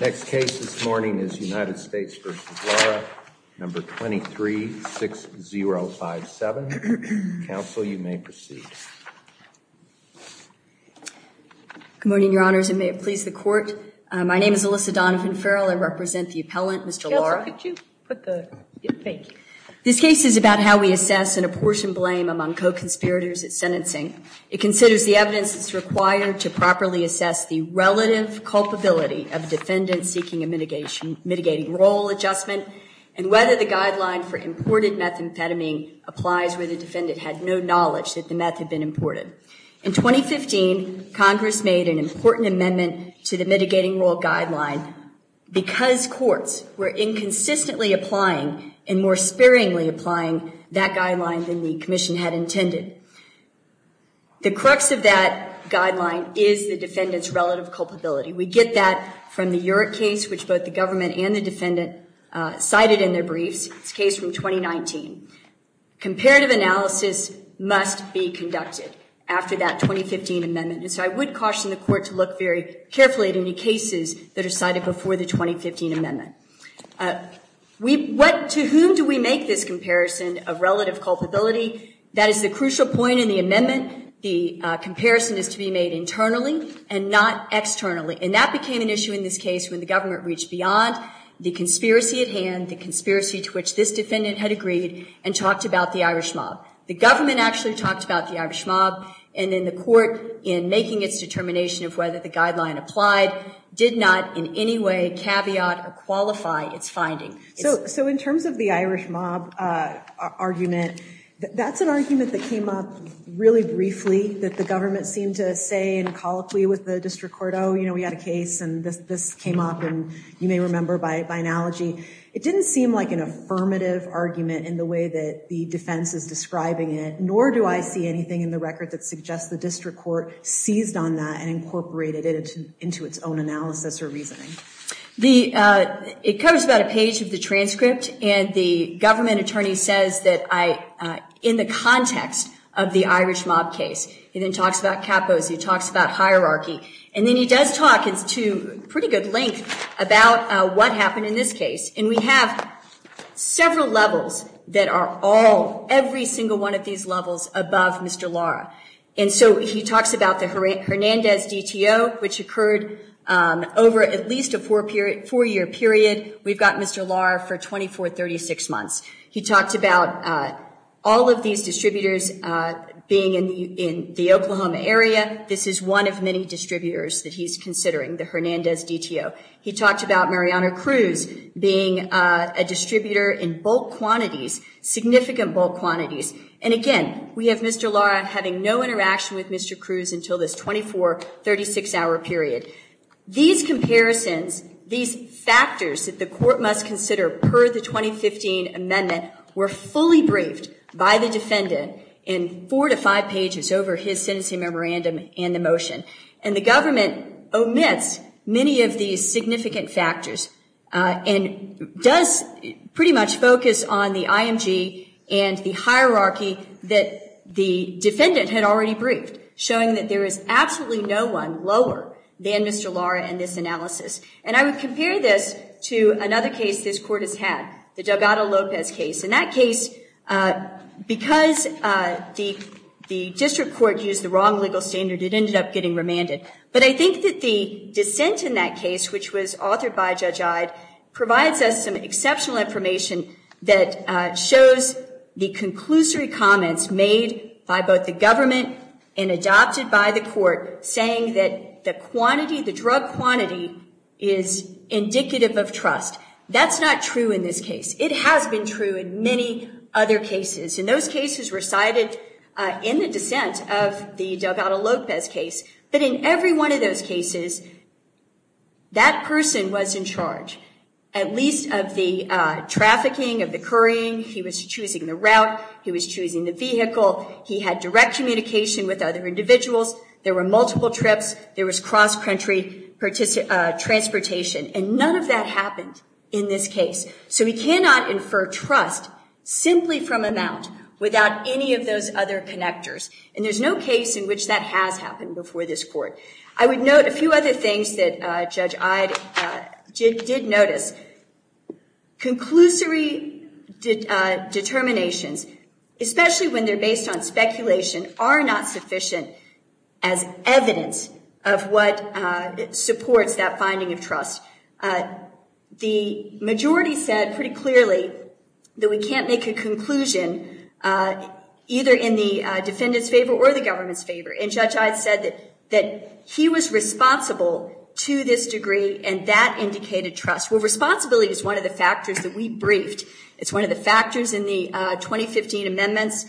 Next case this morning is United States v. Lara, No. 236057. Counsel, you may proceed. Good morning, Your Honors, and may it please the Court. My name is Alyssa Donovan Farrell. I represent the appellant, Mr. Lara. Counsel, could you put the, thank you. This case is about how we assess an abortion blame among co-conspirators at sentencing. It considers the evidence that's required to properly assess the relative culpability of a defendant seeking a mitigating role adjustment and whether the guideline for imported methamphetamine applies where the defendant had no knowledge that the meth had been imported. In 2015, Congress made an important amendment to the mitigating role guideline because courts were inconsistently applying and more sparingly applying that guideline than the commission had intended. The crux of that guideline is the defendant's relative culpability. We get that from the Urich case, which both the government and the defendant cited in their briefs. It's a case from 2019. Comparative analysis must be conducted after that 2015 amendment, and so I would caution the Court to look very carefully at any cases that are cited before the 2015 amendment. To whom do we make this comparison of relative culpability? That is the crucial point in the amendment. The comparison is to be made internally and not externally, and that became an issue in this case when the government reached beyond the conspiracy at hand, the conspiracy to which this defendant had agreed, and talked about the Irish mob. The government actually talked about the Irish mob, and then the Court, in making its determination of whether the guideline applied, did not in any way caveat or qualify its finding. So in terms of the Irish mob argument, that's an argument that came up really briefly that the government seemed to say and colloquially with the District Court, oh you know we had a case and this this came up, and you may remember by by analogy, it didn't seem like an affirmative argument in the way that the defense is describing it, nor do I see anything in the record that suggests the District Court seized on that and incorporated it into its own analysis or reasoning. It covers about a page of the transcript, and the government attorney says that I, in the context of the Irish mob case, he then talks about capos, he talks about hierarchy, and then he does talk, it's to pretty good length, about what happened in this case. And we have several levels that are all, every single one of these levels, above Mr. Lara. And so he talks about the Hernandez DTO, which occurred over at least a four-year period. We've got Mr. Lara for 24-36 months. He talked about all of these distributors being in the Oklahoma area. This is one of many distributors that he's considering, the Hernandez DTO. He talked about Mariano Cruz being a distributor in bulk quantities, significant bulk quantities. And again, we have Mr. Lara having no interaction with Mr. Cruz until this 24-36 hour period. These comparisons, these factors that the court must consider per the 2015 amendment were fully briefed by the defendant in four to five pages over his sentencing memorandum and the motion. And the government omits many of these significant factors and does pretty much focus on the IMG and the hierarchy that the defendant had already briefed, showing that there is absolutely no one lower than Mr. Lara in this analysis. And I would compare this to another case this court has had, the Delgado-Lopez case. In that case, because the district court used the wrong legal standard, it ended up getting remanded. But I think that the dissent in that case, which was authored by Judge Ide, provides us some and adopted by the court, saying that the quantity, the drug quantity is indicative of trust. That's not true in this case. It has been true in many other cases. And those cases recited in the dissent of the Delgado-Lopez case. But in every one of those cases, that person was in charge, at least of the trafficking, of the currying. He was choosing the route. He was choosing the vehicle. He had direct communication with other individuals. There were multiple trips. There was cross-country transportation. And none of that happened in this case. So we cannot infer trust simply from amount without any of those other connectors. And there's no case in which that has happened before this court. I would note a few other things that Judge Ide did notice. Conclusory determinations, especially when they're based on speculation, are not sufficient as evidence of what supports that finding of trust. The majority said pretty clearly that we can't make a conclusion either in the defendant's favor or the government's favor. And Judge Ide said that he was responsible to this degree, and that indicated trust. Well, responsibility is one of the factors that we briefed. It's one of the factors in the 2015 amendments.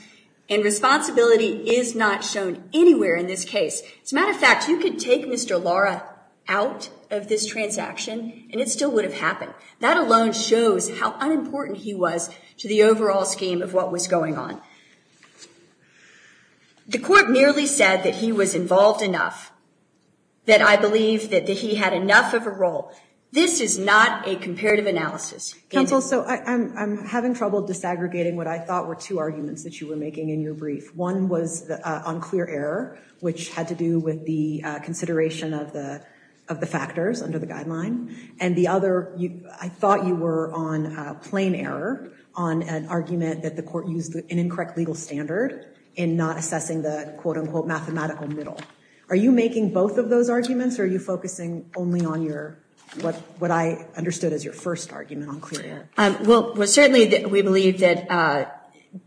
And responsibility is not shown anywhere in this case. As a matter of fact, you could take Mr. Lara out of this transaction, and it still would have happened. That alone shows how unimportant he was to the overall scheme of what was going on. The court merely said that he was involved enough, that I believe that he had enough of a role. This is not a comparative analysis. Counsel, so I'm having trouble disaggregating what I thought were two arguments that you were making in your brief. One was on clear error, which had to do with the consideration of the factors under the guideline. And the other, I thought you were on plain error on an argument that the court used an incorrect legal standard in not assessing the quote-unquote mathematical middle. Are you making both of those arguments, or are you focusing only on what I understood as your first argument on clear error? Well, certainly we believe that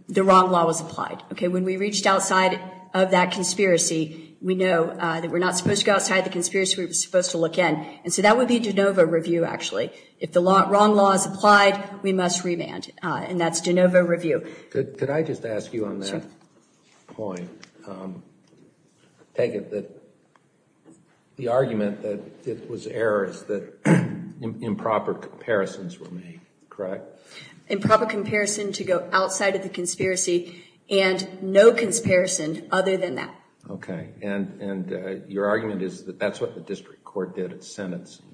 the wrong law was applied. Okay, when we reached outside of that conspiracy, we know that we're not supposed to go outside the conspiracy we were If the wrong law is applied, we must revand, and that's de novo review. Could I just ask you on that point, Peggy, that the argument that it was errors, that improper comparisons were made, correct? Improper comparison to go outside of the conspiracy, and no comparison other than that. Okay, and your argument is that that's what the district court did sentencing.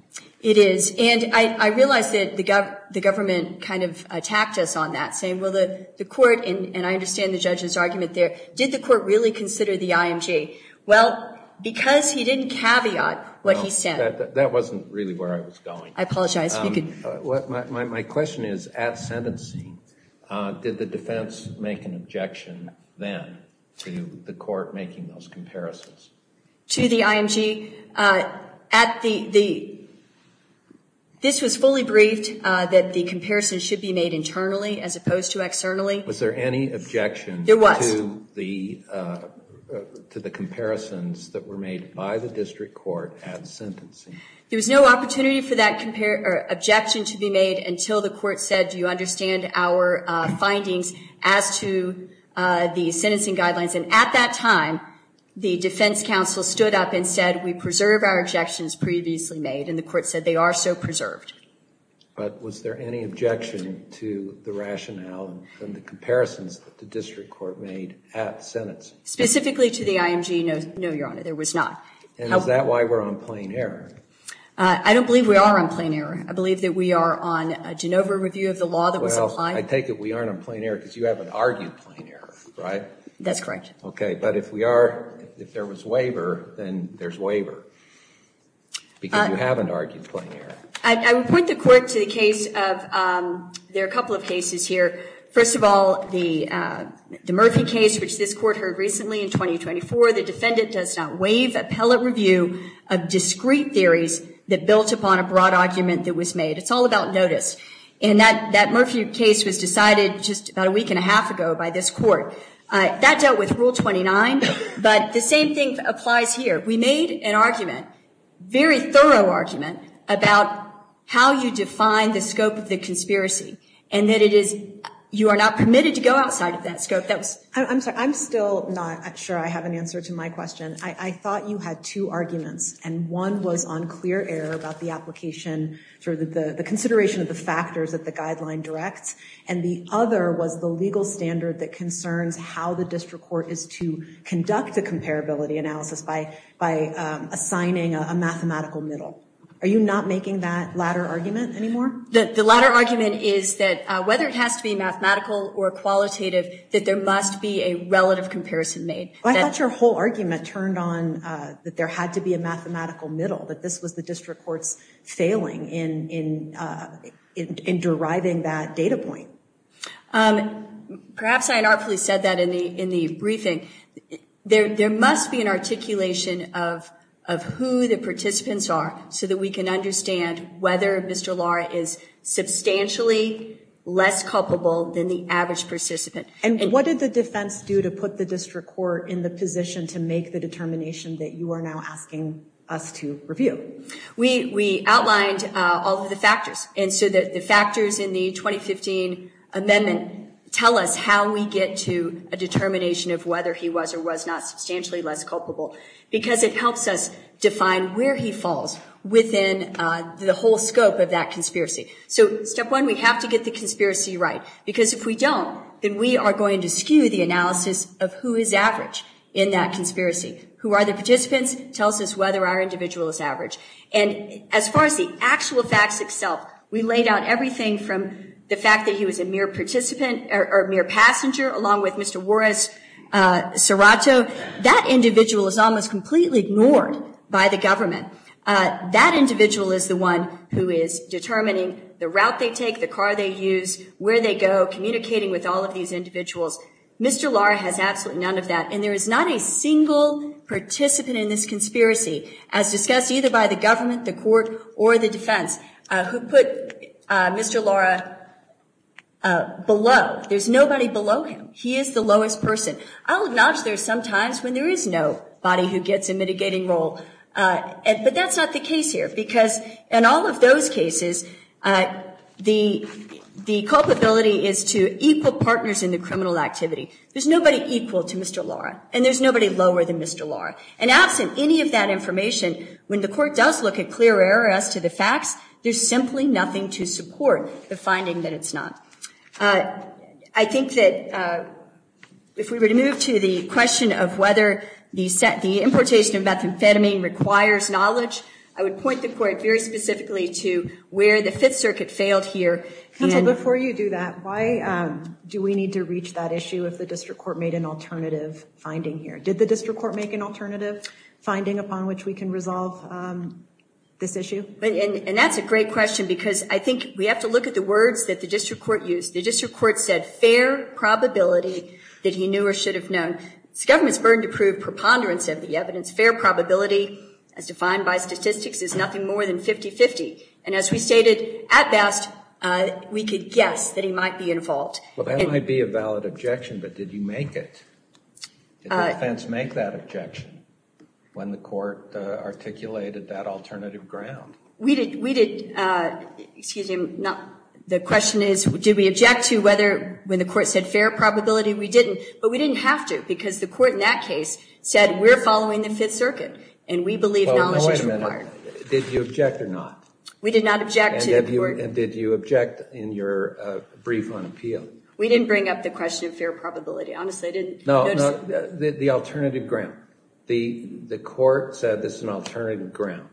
It is, and I realized that the government kind of attacked us on that, saying, well, the court, and I understand the judge's argument there, did the court really consider the IMG? Well, because he didn't caveat what he said. That wasn't really where I was going. I apologize. My question is, at sentencing, did the defense make an objection then to the court making those comparisons? To the IMG? This was fully briefed that the comparison should be made internally as opposed to externally. Was there any objection to the comparisons that were made by the district court at sentencing? There was no opportunity for that objection to be made until the court said, do you understand our findings as to the sentencing guidelines? And at that time, the defense counsel stood up and said, we preserve our objections previously made, and the court said they are so preserved. But was there any objection to the rationale and the comparisons that the district court made at sentence? Specifically to the IMG? No, Your Honor, there was not. And is that why we're on plain error? I don't believe we are on plain error. Well, I take it we aren't on plain error because you haven't argued plain error, right? That's correct. Okay, but if we are, if there was waiver, then there's waiver. Because you haven't argued plain error. I would point the court to the case of, there are a couple of cases here. First of all, the Murphy case, which this court heard recently in 2024, the defendant does not waive appellate review of discrete theories that built upon a that Murphy case was decided just about a week and a half ago by this court. That dealt with Rule 29, but the same thing applies here. We made an argument, very thorough argument, about how you define the scope of the conspiracy, and that it is, you are not permitted to go outside of that scope. I'm sorry, I'm still not sure I have an answer to my question. I thought you had two arguments, and one was on clear error about the consideration of the factors that the guideline directs, and the other was the legal standard that concerns how the district court is to conduct a comparability analysis by assigning a mathematical middle. Are you not making that latter argument anymore? The latter argument is that whether it has to be mathematical or qualitative, that there must be a relative comparison made. I thought your whole argument turned on that there had to be a mathematical middle, that this was the district court's failing in deriving that data point. Perhaps I unartfully said that in the briefing. There must be an articulation of who the participants are, so that we can understand whether Mr. Lara is substantially less culpable than the average participant. And what did the defense do to put the district court in the view? We outlined all of the factors, and so the factors in the 2015 amendment tell us how we get to a determination of whether he was or was not substantially less culpable, because it helps us define where he falls within the whole scope of that conspiracy. So step one, we have to get the conspiracy right, because if we don't, then we are going to skew the analysis of who is average in that conspiracy. Who are the participants? Tells us whether our individual is average. And as far as the actual facts itself, we laid out everything from the fact that he was a mere participant, or mere passenger, along with Mr. Juarez-Serato. That individual is almost completely ignored by the government. That individual is the one who is determining the route they take, the car they use, where they go, communicating with all of these individuals. Mr. Lara has none of that, and there is not a single participant in this conspiracy, as discussed either by the government, the court, or the defense, who put Mr. Lara below. There's nobody below him. He is the lowest person. I'll acknowledge there are some times when there is nobody who gets a mitigating role, but that's not the case here, because in all of those cases, the culpability is to equal to Mr. Lara, and there's nobody lower than Mr. Lara. And absent any of that information, when the court does look at clear error as to the facts, there's simply nothing to support the finding that it's not. I think that if we were to move to the question of whether the importation of methamphetamine requires knowledge, I would point the court very specifically to where the Fifth Circuit failed here. Counsel, before you do that, why do we need to reach that issue if the district court made an alternative finding here? Did the district court make an alternative finding upon which we can resolve this issue? And that's a great question, because I think we have to look at the words that the district court used. The district court said, fair probability that he knew or should have known. It's the government's burden to prove preponderance of the evidence. Fair probability, as defined by we could guess that he might be involved. Well, that might be a valid objection, but did you make it? Did the defense make that objection when the court articulated that alternative ground? The question is, did we object to whether when the court said fair probability? We didn't, but we didn't have to, because the court in that case said, we're following the Fifth Circuit, and we believe knowledge is required. Wait a minute. Did you object or not? We did not object and did you object in your brief on appeal? We didn't bring up the question of fair probability. Honestly, I didn't. No, no. The alternative ground. The court said this is an alternative ground.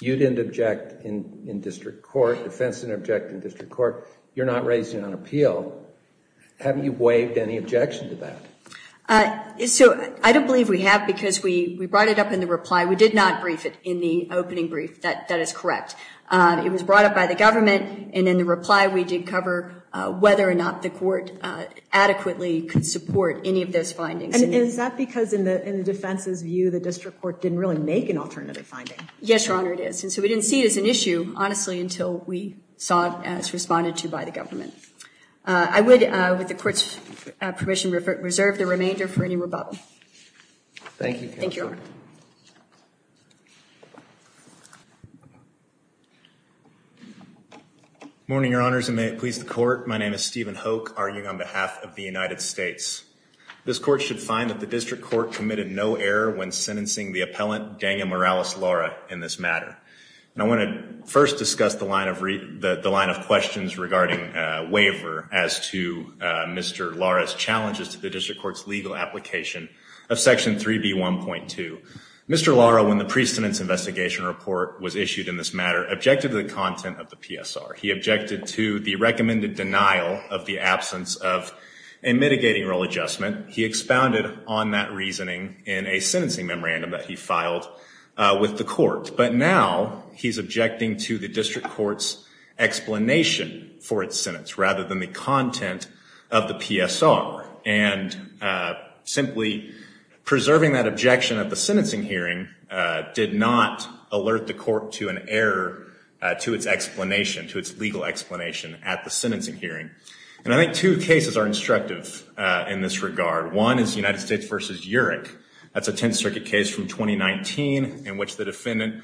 You didn't object in district court. Defense didn't object in district court. You're not raising an appeal. Have you waived any objection to that? So, I don't believe we have, because we brought it up in the reply. We did not brief it in the opening brief. That is correct. It was brought up by the government, and in the reply, we did cover whether or not the court adequately could support any of those findings. And is that because in the defense's view, the district court didn't really make an alternative finding? Yes, Your Honor, it is. And so, we didn't see it as an issue, honestly, until we saw it as responded to by the government. I would, with the court's permission, reserve the remainder for any questions. Thank you, Your Honor. Morning, Your Honors, and may it please the court. My name is Stephen Hoke, arguing on behalf of the United States. This court should find that the district court committed no error when sentencing the appellant, Daniel Morales Lara, in this matter. And I want to first discuss the line of questions regarding waiver as to Mr. Lara's challenges to district court's legal application of section 3B1.2. Mr. Lara, when the pre-sentence investigation report was issued in this matter, objected to the content of the PSR. He objected to the recommended denial of the absence of a mitigating role adjustment. He expounded on that reasoning in a sentencing memorandum that he filed with the court. But now, he's objecting to district court's explanation for its sentence rather than the content of the PSR. And simply preserving that objection at the sentencing hearing did not alert the court to an error to its explanation, to its legal explanation at the sentencing hearing. And I think two cases are instructive in this regard. One is United States v. URIC. That's a Tenth Circuit case from 2019 in which the defendant,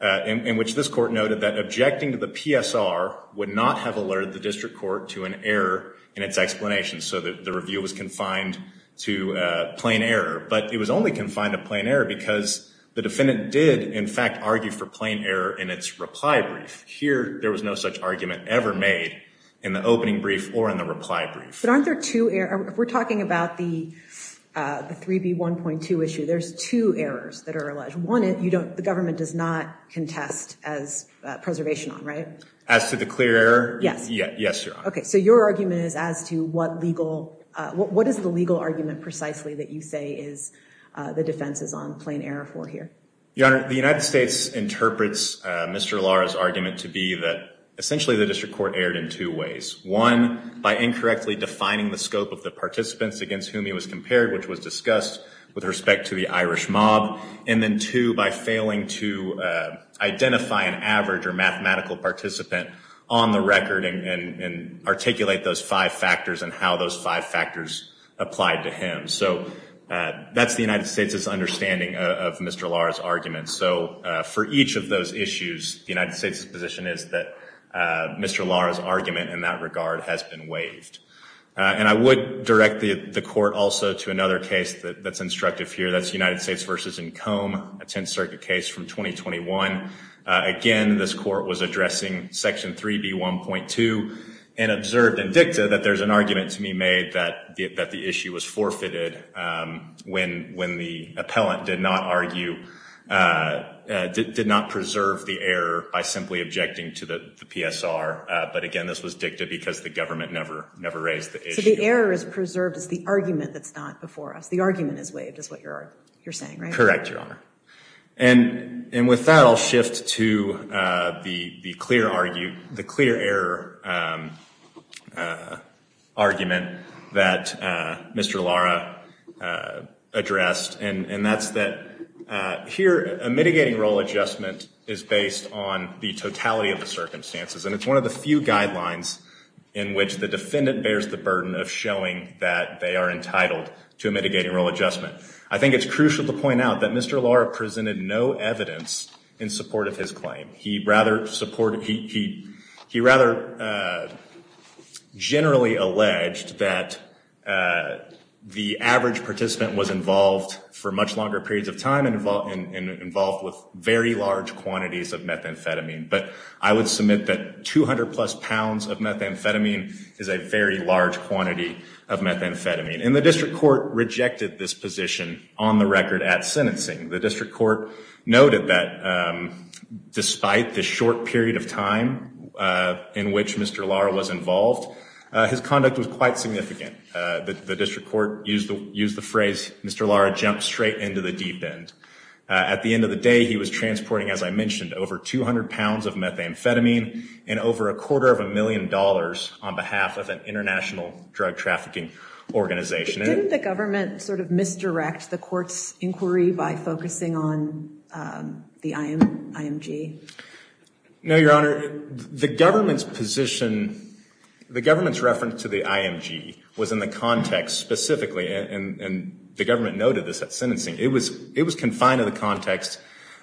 in which this court noted that objecting to the PSR would not have alerted the district court to an error in its explanation. So the review was confined to plain error. But it was only confined to plain error because the defendant did in fact argue for plain error in its reply brief. Here, there was no such argument ever made in the opening brief or in the reply brief. But aren't there two errors? We're talking about the 3B1.2 issue. There's two errors that are the government does not contest as preservation on, right? As to the clear error? Yes. Yes, Your Honor. Okay. So your argument is as to what is the legal argument precisely that you say is the defense is on plain error for here? Your Honor, the United States interprets Mr. Lara's argument to be that essentially the district court erred in two ways. One, by incorrectly defining the scope of the participants against whom he was compared, which was discussed with respect to the Irish mob. And then two, by failing to identify an average or mathematical participant on the record and articulate those five factors and how those five factors applied to him. So that's the United States' understanding of Mr. Lara's argument. So for each of those issues, the United States' position is that Mr. Lara's argument in that regard has been waived. And I would direct the court also to another case that's instructive here. That's United States v. Combe, a Tenth Circuit case from 2021. Again, this court was addressing Section 3B1.2 and observed and dicta that there's an argument to be made that the issue was forfeited when the appellant did not argue, did not preserve the error by simply objecting to the PSR. But again, this was dicta because the government never raised the issue. So the error is preserved as the argument that's not before us. The argument is waived, is what you're saying, right? Correct, Your Honor. And with that, I'll shift to the clear error argument that Mr. Lara addressed. And that's that here a mitigating role adjustment is based on the totality of the in which the defendant bears the burden of showing that they are entitled to a mitigating role adjustment. I think it's crucial to point out that Mr. Lara presented no evidence in support of his claim. He rather generally alleged that the average participant was involved for much longer periods of time and involved with very large quantities of methamphetamine. But I would submit that 200 plus pounds of methamphetamine is a very large quantity of methamphetamine. And the district court rejected this position on the record at sentencing. The district court noted that despite the short period of time in which Mr. Lara was involved, his conduct was quite significant. The district court used the phrase Mr. Lara jumped straight into the deep end. At the end of the day, he was transporting, as I mentioned, over 200 pounds of methamphetamine and over a quarter of a million dollars on behalf of an international drug trafficking organization. Didn't the government sort of misdirect the court's inquiry by focusing on the IMG? No, Your Honor. The government's position, the government's reference to the IMG was in the context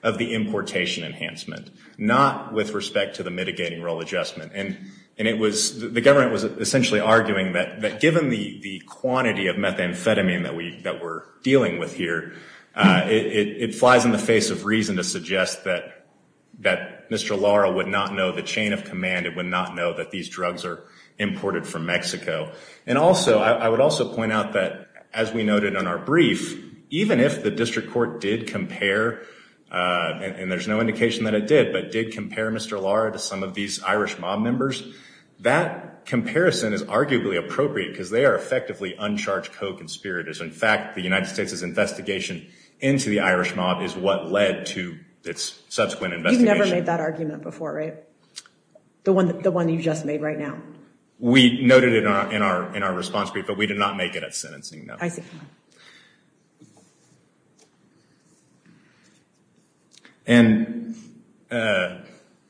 of the importation enhancement, not with respect to the mitigating role adjustment. And the government was essentially arguing that given the quantity of methamphetamine that we're dealing with here, it flies in the face of reason to suggest that Mr. Lara would not know the chain of command, it would not know that these drugs are imported from Mexico. And also, I would also point out that as we noted in our brief, even if the district court did compare, and there's no indication that it did, but did compare Mr. Lara to some of these Irish mob members, that comparison is arguably appropriate because they are effectively uncharged co-conspirators. In fact, the United States' investigation into the Irish mob is what led to its subsequent investigation. You've never made that argument before, right? The one you just made right now. We noted it in our response brief, but we did not make it at sentencing, no. And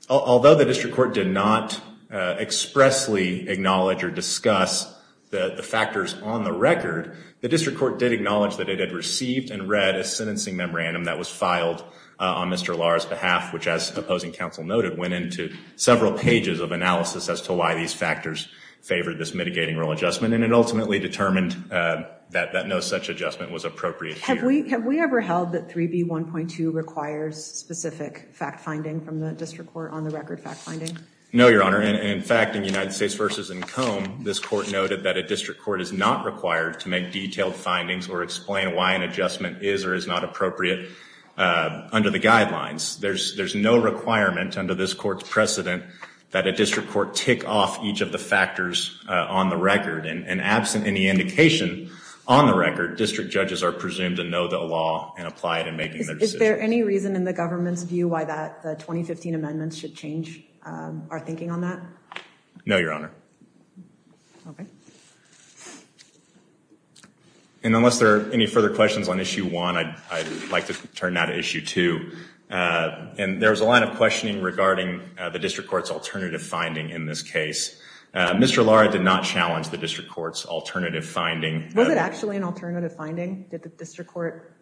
although the district court did not expressly acknowledge or discuss the factors on the record, the district court did acknowledge that it had received and read a sentencing memorandum that was filed on Mr. Lara's behalf, which as opposing counsel noted, went into several pages of analysis as to why these factors favored this mitigating rule adjustment, and it ultimately determined that no such adjustment was appropriate. Have we ever held that 3B1.2 requires specific fact-finding from the district court on the record fact-finding? No, Your Honor. In fact, in United States vs. Combe, this court noted that a district court is not required to make detailed findings or explain why an adjustment is or is not appropriate under the guidelines. There's no requirement under this court's factors on the record, and absent any indication on the record, district judges are presumed to know the law and apply it in making their decisions. Is there any reason in the government's view why that 2015 amendment should change our thinking on that? No, Your Honor. Okay. And unless there are any further questions on issue one, I'd like to turn now to issue two. And there's a lot of questioning regarding the district court's alternative finding in this case. Mr. Lara did not challenge the district court's alternative finding. Was it actually an alternative finding that the district court?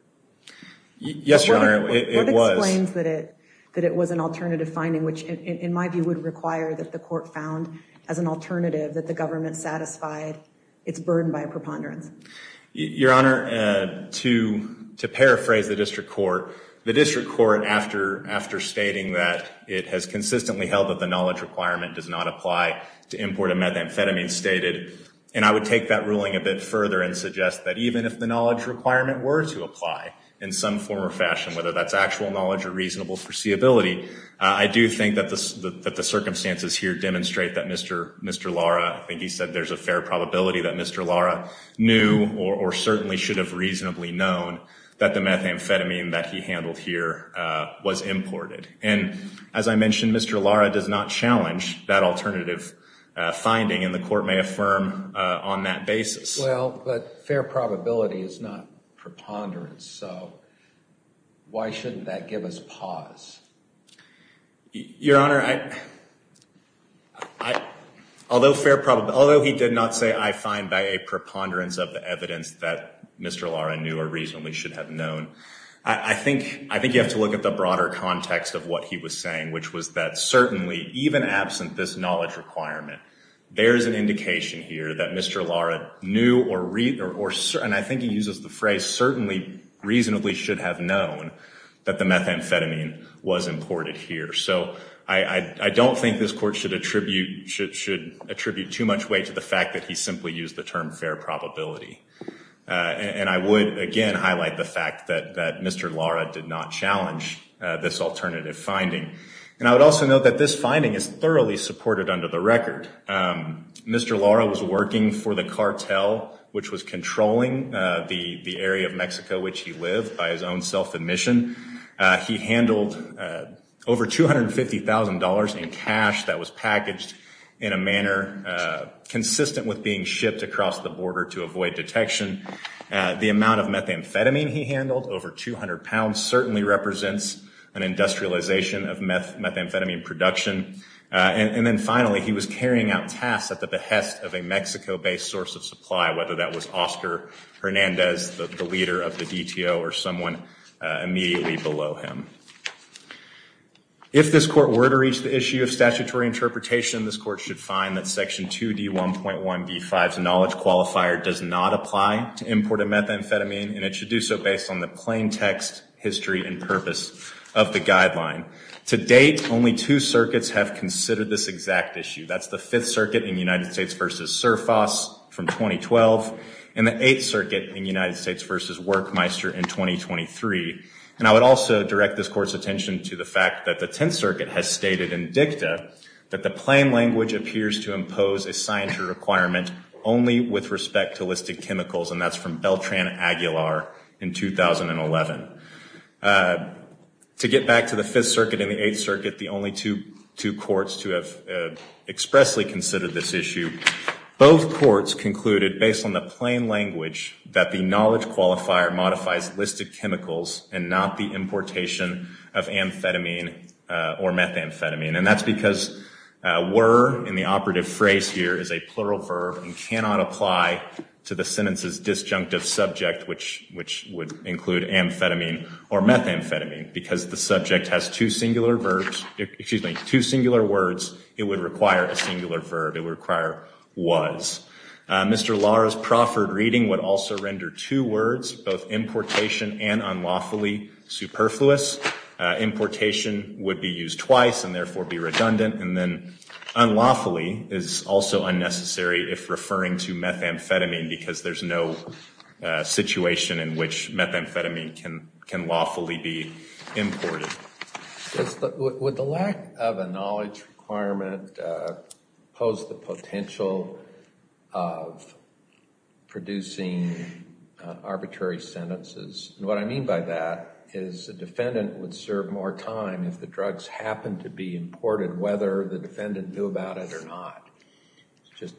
Yes, Your Honor, it was. What explains that it was an alternative finding, which in my view would require that the court found as an alternative that the government satisfied its burden by a preponderance? Your Honor, to paraphrase the district court, the district court, after stating that it has consistently held that the knowledge requirement does not apply to import a methamphetamine stated, and I would take that ruling a bit further and suggest that even if the knowledge requirement were to apply in some form or fashion, whether that's actual knowledge or reasonable foreseeability, I do think that the circumstances here demonstrate that Mr. Mr. Lara, I think he said there's a fair probability that Mr. Lara knew or certainly should have reasonably known that the methamphetamine that he handled here was imported. And as I mentioned, Mr. Lara does not challenge that alternative finding, and the court may affirm on that basis. Well, but fair probability is not preponderance, so why shouldn't that give us pause? Your Honor, although he did not say I find by a preponderance of the evidence that Mr. Lara knew or reasonably should have known, I think you have to look at the broader context of what he was saying, which was that certainly, even absent this knowledge requirement, there's an indication here that Mr. Lara knew or read, and I think he uses the phrase, certainly reasonably should have known that the methamphetamine was imported here. So I don't think this court should attribute too much weight to the fact that he simply used the term fair probability. And I would again highlight the fact that Mr. Lara did not challenge this alternative finding. And I would also note that this finding is thoroughly supported under the record. Mr. Lara was working for the cartel, which was controlling the area of Mexico which he lived by his own self-admission. He handled over $250,000 in cash that was packaged in a manner consistent with being shipped across the border to avoid detection. The amount of methamphetamine he handled, over 200 pounds, certainly represents an industrialization of methamphetamine production. And then finally, he was carrying out tasks at the behest of a Mexico-based source of supply, whether that was Oscar Hernandez, the leader of the DTO, or someone immediately below him. If this court were to reach the issue of statutory interpretation, this court should find that section 2D1.1b5's knowledge qualifier does not apply to imported methamphetamine, and it should do so based on the plain text history and purpose of the guideline. To date, only two circuits have considered this exact issue. That's the Fifth Circuit in United States v. Surfoss from 2012, and the Eighth Circuit in United States v. Workmeister in 2023. And I would also direct this court's attention to the fact that the Tenth Circuit has stated in plain language appears to impose a scientific requirement only with respect to listed chemicals, and that's from Beltran-Aguilar in 2011. To get back to the Fifth Circuit and the Eighth Circuit, the only two courts to have expressly considered this issue, both courts concluded, based on the plain language, that the knowledge qualifier modifies listed chemicals and not the importation of amphetamine or methamphetamine. And that's because were, in the operative phrase here, is a plural verb and cannot apply to the sentence's disjunctive subject, which would include amphetamine or methamphetamine. Because the subject has two singular verbs, excuse me, two singular words, it would require a singular verb. It would require was. Mr. Lara's proffered reading would also render two words, both importation and unlawfully, superfluous. Importation would be used twice and therefore be redundant. And then unlawfully is also unnecessary if referring to methamphetamine because there's no situation in which methamphetamine can lawfully be imported. Would the lack of a knowledge requirement pose the potential of producing arbitrary sentences? And what I mean by that is a defendant would serve more time if the drugs happened to be imported, whether the defendant knew about it or not. It's just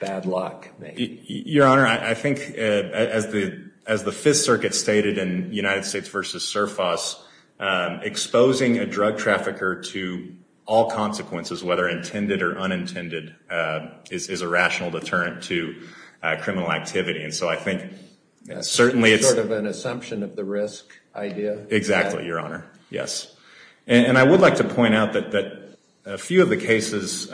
bad luck. Your Honor, I think as the United States v. SURFOS, exposing a drug trafficker to all consequences, whether intended or unintended, is a rational deterrent to criminal activity. And so I think certainly it's sort of an assumption of the risk idea. Exactly, Your Honor. Yes. And I would like to point out that a few of the cases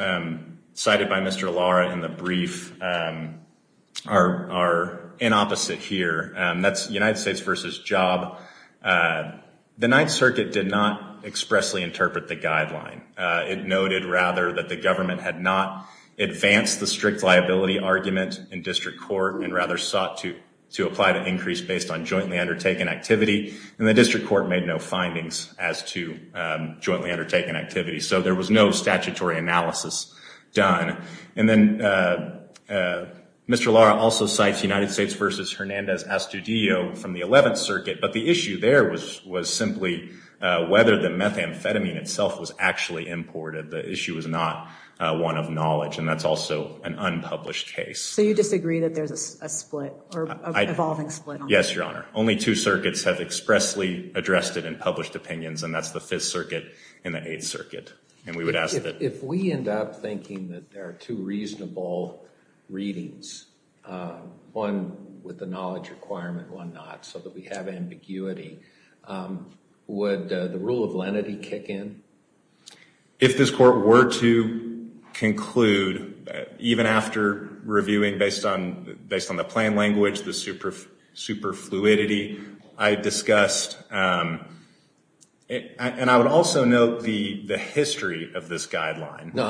cited by Mr. Lara in the brief are in opposite here. That's United States v. Job. The Ninth Circuit did not expressly interpret the guideline. It noted rather that the government had not advanced the strict liability argument in district court and rather sought to to apply to increase based on jointly undertaken activity. And the district court made no findings as to statutory analysis done. And then Mr. Lara also cites United States v. Hernandez Astudillo from the Eleventh Circuit. But the issue there was simply whether the methamphetamine itself was actually imported. The issue was not one of knowledge. And that's also an unpublished case. So you disagree that there's a split or an evolving split? Yes, Your Honor. Only two circuits have expressly addressed it in published opinions. And that's the Fifth Circuit and the Eighth Circuit. And we would ask that if we end up thinking that there are two reasonable readings, one with the knowledge requirement, one not, so that we have ambiguity, would the rule of lenity kick in? If this court were to conclude even after reviewing based on based on the plain language, the super fluidity I discussed, and I would also note the history of this guideline. No,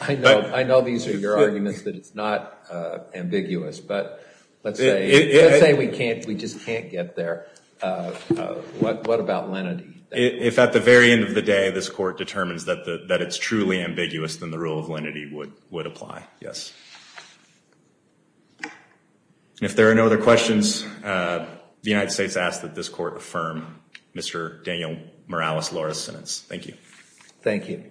I know. I know these are your arguments that it's not ambiguous, but let's say we can't. We just can't get there. What about lenity? If at the very end of the day, this court determines that it's truly ambiguous, then the rule of lenity would apply. Yes. If there are no other questions, the United States asks that this court affirm Mr. Daniel Morales' sentence. Thank you. Thank you.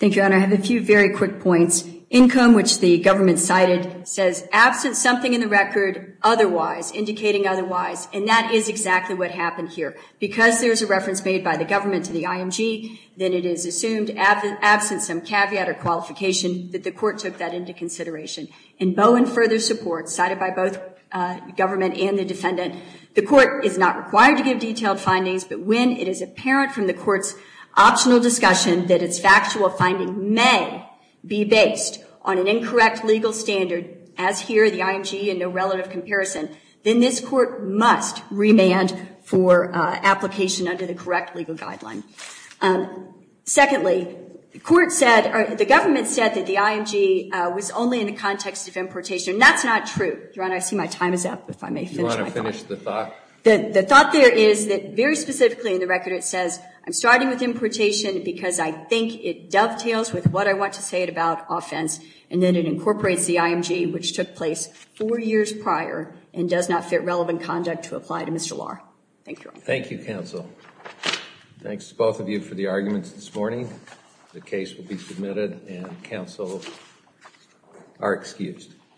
Thank you, Your Honor. I have a few very quick points. Income, which the government cited, says absent something in the record otherwise, indicating otherwise, and that is exactly what happened here. Because there's a reference made by the government to the IMG, then it is assumed absent some caveat or qualification that the court took that into consideration. In bowing further support, cited by both government and the defendant, the court is not required to give detailed findings, but when it is apparent from the court's optional discussion that its factual finding may be based on an incorrect legal standard, as here the IMG and no relative comparison, then this court must remand for application under the correct legal guideline. Secondly, the government said that the IMG was only in the context of importation, and that's not true. Your Honor, I see my time is up, if I may finish my thought. You want to finish the thought? The thought there is that very specifically in the record it says I'm starting with importation because I think it dovetails with what I want to say about offense, and then it incorporates the IMG, which took place four years prior and does not fit relevant conduct to apply to Mr. Lahr. Thank you. Thank you, counsel. Thanks to both of you for the arguments this morning. The case will be submitted and counsel are excused.